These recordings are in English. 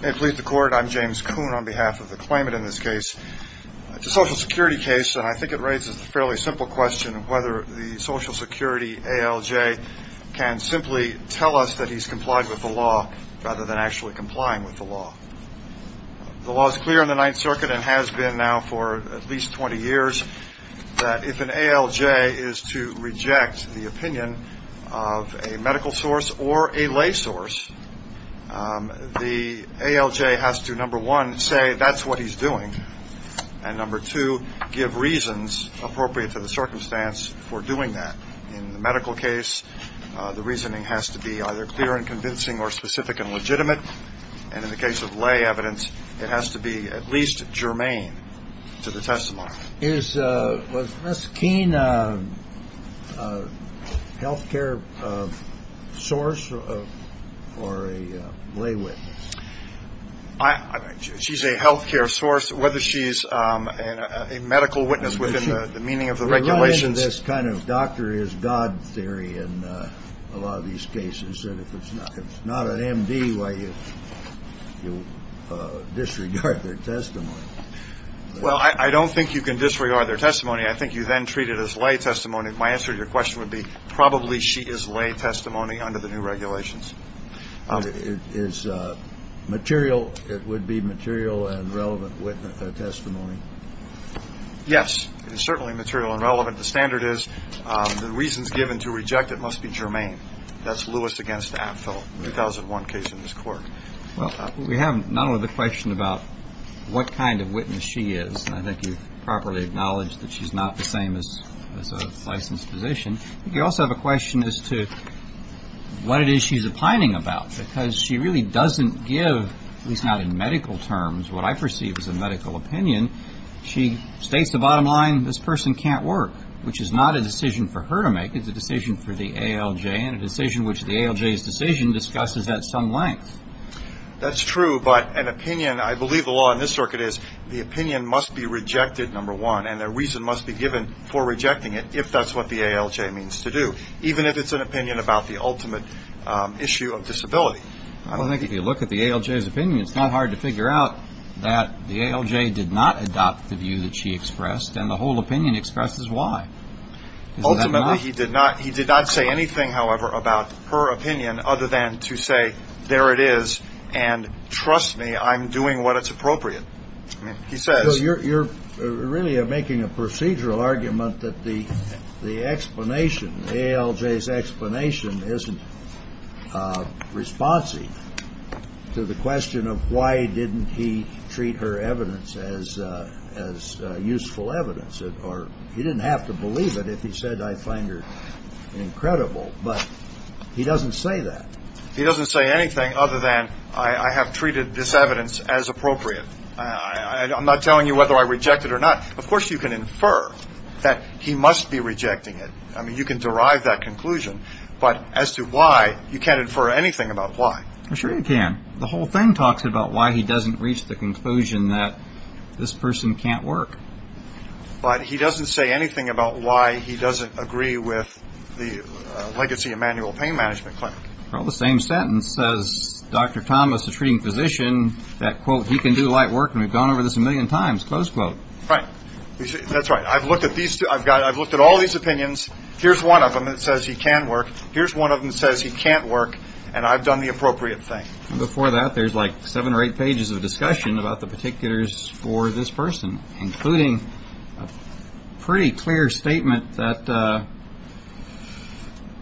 May it please the court, I'm James Kuhn on behalf of the claimant in this case. It's a social security case and I think it raises a fairly simple question of whether the social security ALJ can simply tell us that he's complied with the law rather than actually complying with the law. The law is clear in the Ninth Circuit and has been now for at least 20 years that if an ALJ is to reject the opinion of a medical source or a lay source, the ALJ has to, number one, say that's what he's doing. And number two, give reasons appropriate to the circumstance for doing that. In the medical case, the reasoning has to be either clear and convincing or specific and legitimate. And in the case of lay evidence, it has to be at least germane to the testimony. Is Ms. Keene a health care source or a lay witness? She's a health care source, whether she's a medical witness within the meaning of the regulations. We run into this kind of doctor is God theory in a lot of these cases. And if it's not an MD, why, you disregard their testimony. Well, I don't think you can disregard their testimony. I think you then treat it as lay testimony. My answer to your question would be probably she is lay testimony under the new regulations. It is material. It would be material and relevant witness testimony. Yes, it is certainly material and relevant. The standard is the reasons given to reject it must be germane. That's Lewis against Apto, 2001 case in this court. Well, we have not only the question about what kind of witness she is. I think you've properly acknowledged that she's not the same as a licensed physician. You also have a question as to what it is she's opining about because she really doesn't give, at least not in medical terms, what I perceive as a medical opinion. She states the bottom line, this person can't work, which is not a decision for her to make. I think it's a decision for the ALJ and a decision which the ALJ's decision discusses at some length. That's true, but an opinion, I believe the law in this circuit is the opinion must be rejected, number one, and a reason must be given for rejecting it if that's what the ALJ means to do, even if it's an opinion about the ultimate issue of disability. I think if you look at the ALJ's opinion, it's not hard to figure out that the ALJ did not adopt the view that she expressed and the whole opinion expresses why. Ultimately, he did not say anything, however, about her opinion other than to say, there it is and trust me, I'm doing what is appropriate. He says- So you're really making a procedural argument that the explanation, the ALJ's explanation isn't responsive to the question of why didn't he treat her evidence as useful evidence or he didn't have to believe it if he said I find her incredible, but he doesn't say that. He doesn't say anything other than I have treated this evidence as appropriate. I'm not telling you whether I reject it or not. Of course, you can infer that he must be rejecting it. I mean, you can derive that conclusion, but as to why, you can't infer anything about why. Sure you can. The whole thing talks about why he doesn't reach the conclusion that this person can't work. But he doesn't say anything about why he doesn't agree with the legacy of manual pain management clinic. Well, the same sentence says Dr. Thomas, the treating physician, that, quote, he can do light work and we've gone over this a million times, close quote. Right. That's right. I've looked at all these opinions. Here's one of them that says he can work. Here's one of them that says he can't work, and I've done the appropriate thing. Before that, there's like seven or eight pages of discussion about the particulars for this person, including a pretty clear statement that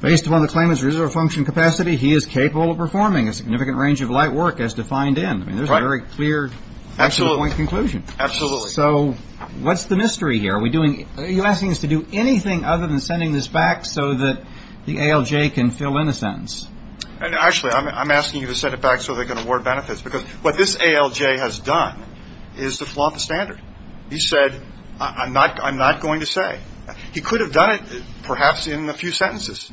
based upon the claimant's reserve function capacity, he is capable of performing a significant range of light work as defined in. I mean, there's a very clear point conclusion. Absolutely. So what's the mystery here? Are you asking us to do anything other than sending this back so that the ALJ can fill in the sentence? Actually, I'm asking you to send it back so they can award benefits, because what this ALJ has done is to flaunt the standard. He said, I'm not going to say. He could have done it perhaps in a few sentences,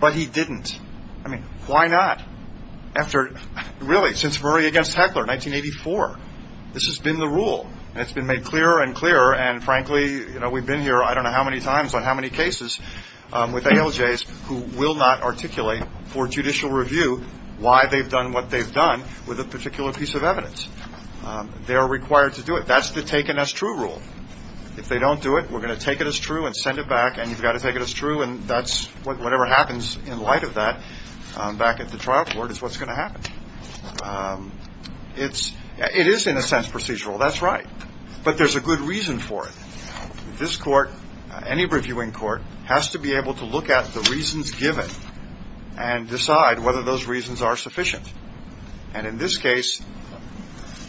but he didn't. I mean, why not? After, really, since Murray against Heckler, 1984, this has been the rule. It's been made clearer and clearer, and frankly, we've been here I don't know how many times on how many cases with ALJs who will not articulate for judicial review why they've done what they've done with a particular piece of evidence. They are required to do it. That's the taken as true rule. If they don't do it, we're going to take it as true and send it back, and you've got to take it as true, and that's whatever happens in light of that back at the trial court is what's going to happen. It is, in a sense, procedural. That's right, but there's a good reason for it. This court, any reviewing court, has to be able to look at the reasons given and decide whether those reasons are sufficient, and in this case,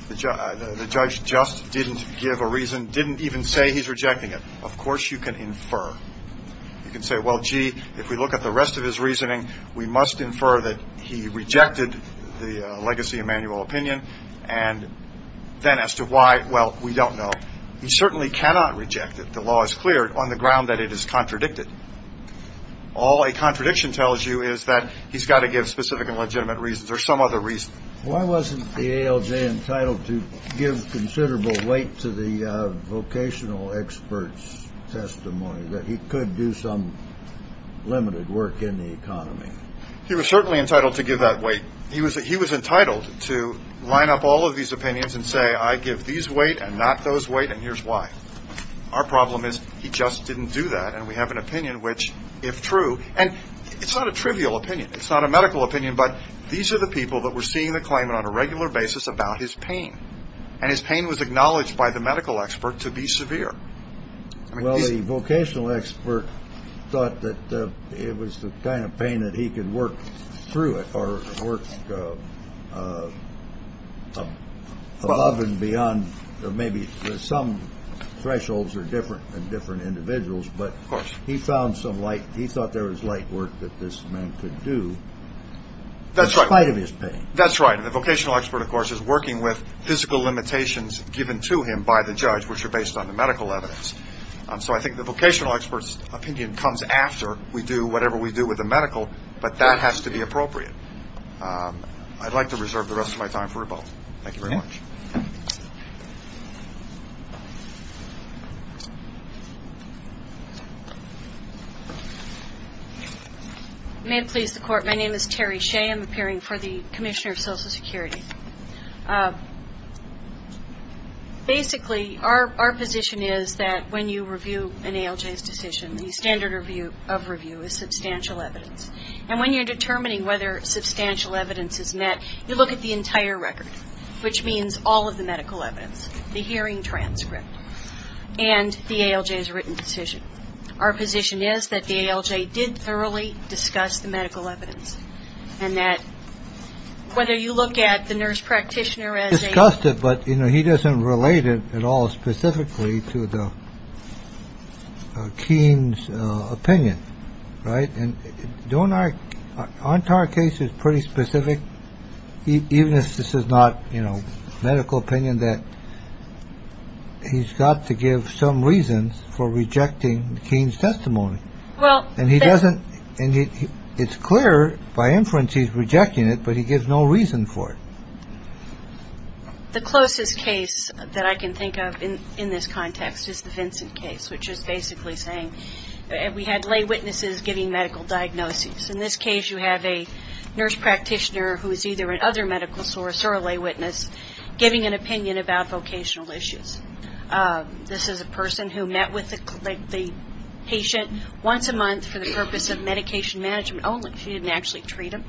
the judge just didn't give a reason, didn't even say he's rejecting it. Of course you can infer. You can say, well, gee, if we look at the rest of his reasoning, we must infer that he rejected the legacy of manual opinion, and then as to why, well, we don't know. He certainly cannot reject it. The law is clear on the ground that it is contradicted. All a contradiction tells you is that he's got to give specific and legitimate reasons or some other reason. Why wasn't the ALJ entitled to give considerable weight to the vocational expert's testimony that he could do some limited work in the economy? He was certainly entitled to give that weight. He was entitled to line up all of these opinions and say, I give these weight and not those weight, and here's why. Our problem is he just didn't do that, and we have an opinion which, if true, and it's not a trivial opinion. It's not a medical opinion, but these are the people that were seeing the claimant on a regular basis about his pain, and his pain was acknowledged by the medical expert to be severe. Well, the vocational expert thought that it was the kind of pain that he could work through it or work above and beyond. Maybe some thresholds are different in different individuals, but he found some light. He thought there was light work that this man could do in spite of his pain. That's right, and the vocational expert, of course, is working with physical limitations given to him by the judge, which are based on the medical evidence. So I think the vocational expert's opinion comes after we do whatever we do with the medical, but that has to be appropriate. I'd like to reserve the rest of my time for both. Thank you very much. May it please the Court. My name is Terri Shea. I'm appearing for the Commissioner of Social Security. Basically, our position is that when you review an ALJ's decision, the standard of review is substantial evidence, and when you're determining whether substantial evidence is met, you look at the entire record, which means all of the medical evidence, the hearing transcript, and the ALJ's written decision. Our position is that the ALJ did thoroughly discuss the medical evidence, and that whether you look at the nurse practitioner as a... Discussed it, but, you know, he doesn't relate it at all specifically to the Keene's opinion, right? And don't I... our entire case is pretty specific, even if this is not, you know, medical opinion, that he's got to give some reasons for rejecting the Keene's testimony. Well... And he doesn't... and it's clear by inference he's rejecting it, but he gives no reason for it. The closest case that I can think of in this context is the Vincent case, which is basically saying we had lay witnesses giving medical diagnoses. In this case, you have a nurse practitioner who is either an other medical source or a lay witness giving an opinion about vocational issues. This is a person who met with the patient once a month for the purpose of medication management only. She didn't actually treat him.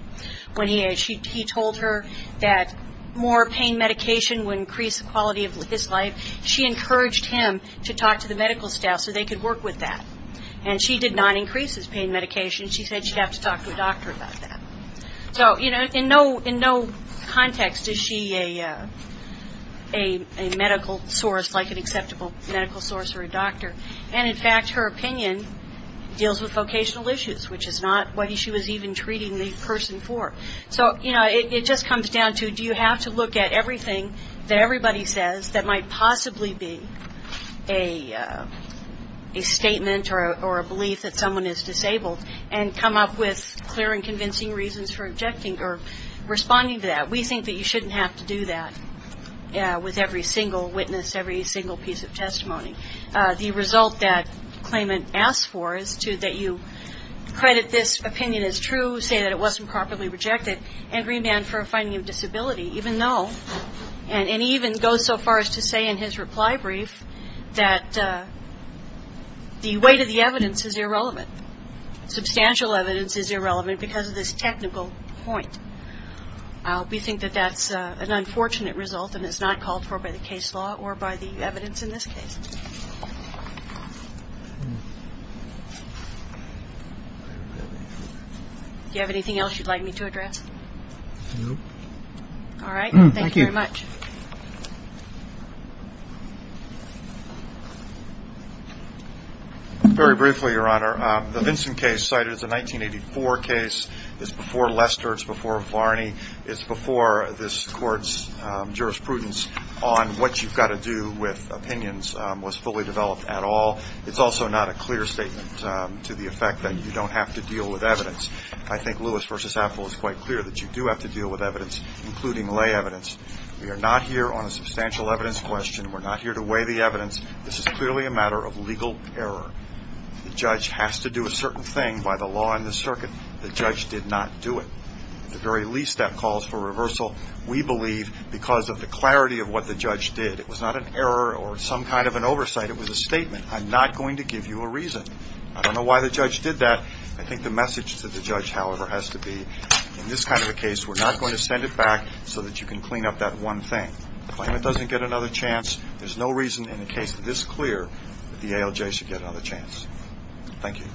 When he told her that more pain medication would increase the quality of his life, she encouraged him to talk to the medical staff so they could work with that. And she did not increase his pain medication. She said she'd have to talk to a doctor about that. So, you know, in no context is she a medical source, like an acceptable medical source or a doctor. And, in fact, her opinion deals with vocational issues, which is not what she was even treating the person for. So, you know, it just comes down to do you have to look at everything that everybody says that might possibly be a statement or a belief that someone is disabled and come up with clear and convincing reasons for objecting or responding to that. We think that you shouldn't have to do that with every single witness, every single piece of testimony. The result that Klayman asked for is that you credit this opinion as true, say that it wasn't properly rejected, and remand for a finding of disability, even though, and even go so far as to say in his reply brief, that the weight of the evidence is irrelevant. Substantial evidence is irrelevant because of this technical point. We think that that's an unfortunate result and is not called for by the case law or by the evidence in this case. Do you have anything else you'd like me to address? All right. Thank you very much. Very briefly, Your Honor, the Vincent case cited is a 1984 case. It's before Lester. It's before Varney. It's before this court's jurisprudence on what you've got to do with opinions was fully developed at all. It's also not a clear statement to the effect that you don't have to deal with evidence. I think Lewis v. Apple is quite clear that you do have to deal with evidence, including lay evidence. We are not here on a substantial evidence question. We're not here to weigh the evidence. This is clearly a matter of legal error. The judge has to do a certain thing by the law and the circuit. The judge did not do it. At the very least, that calls for reversal, we believe, because of the clarity of what the judge did. It was not an error or some kind of an oversight. It was a statement. I'm not going to give you a reason. I don't know why the judge did that. I think the message to the judge, however, has to be, in this kind of a case, we're not going to send it back so that you can clean up that one thing. The claimant doesn't get another chance. There's no reason in a case this clear that the ALJ should get another chance. Thank you.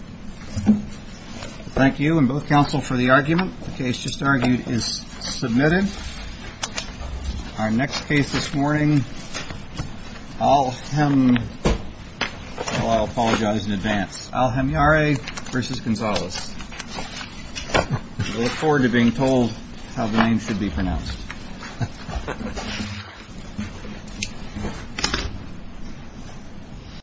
Thank you, and both counsel, for the argument. The case just argued is submitted. Our next case this morning, Alhemyare v. Gonzalez. Look forward to being told how the name should be pronounced.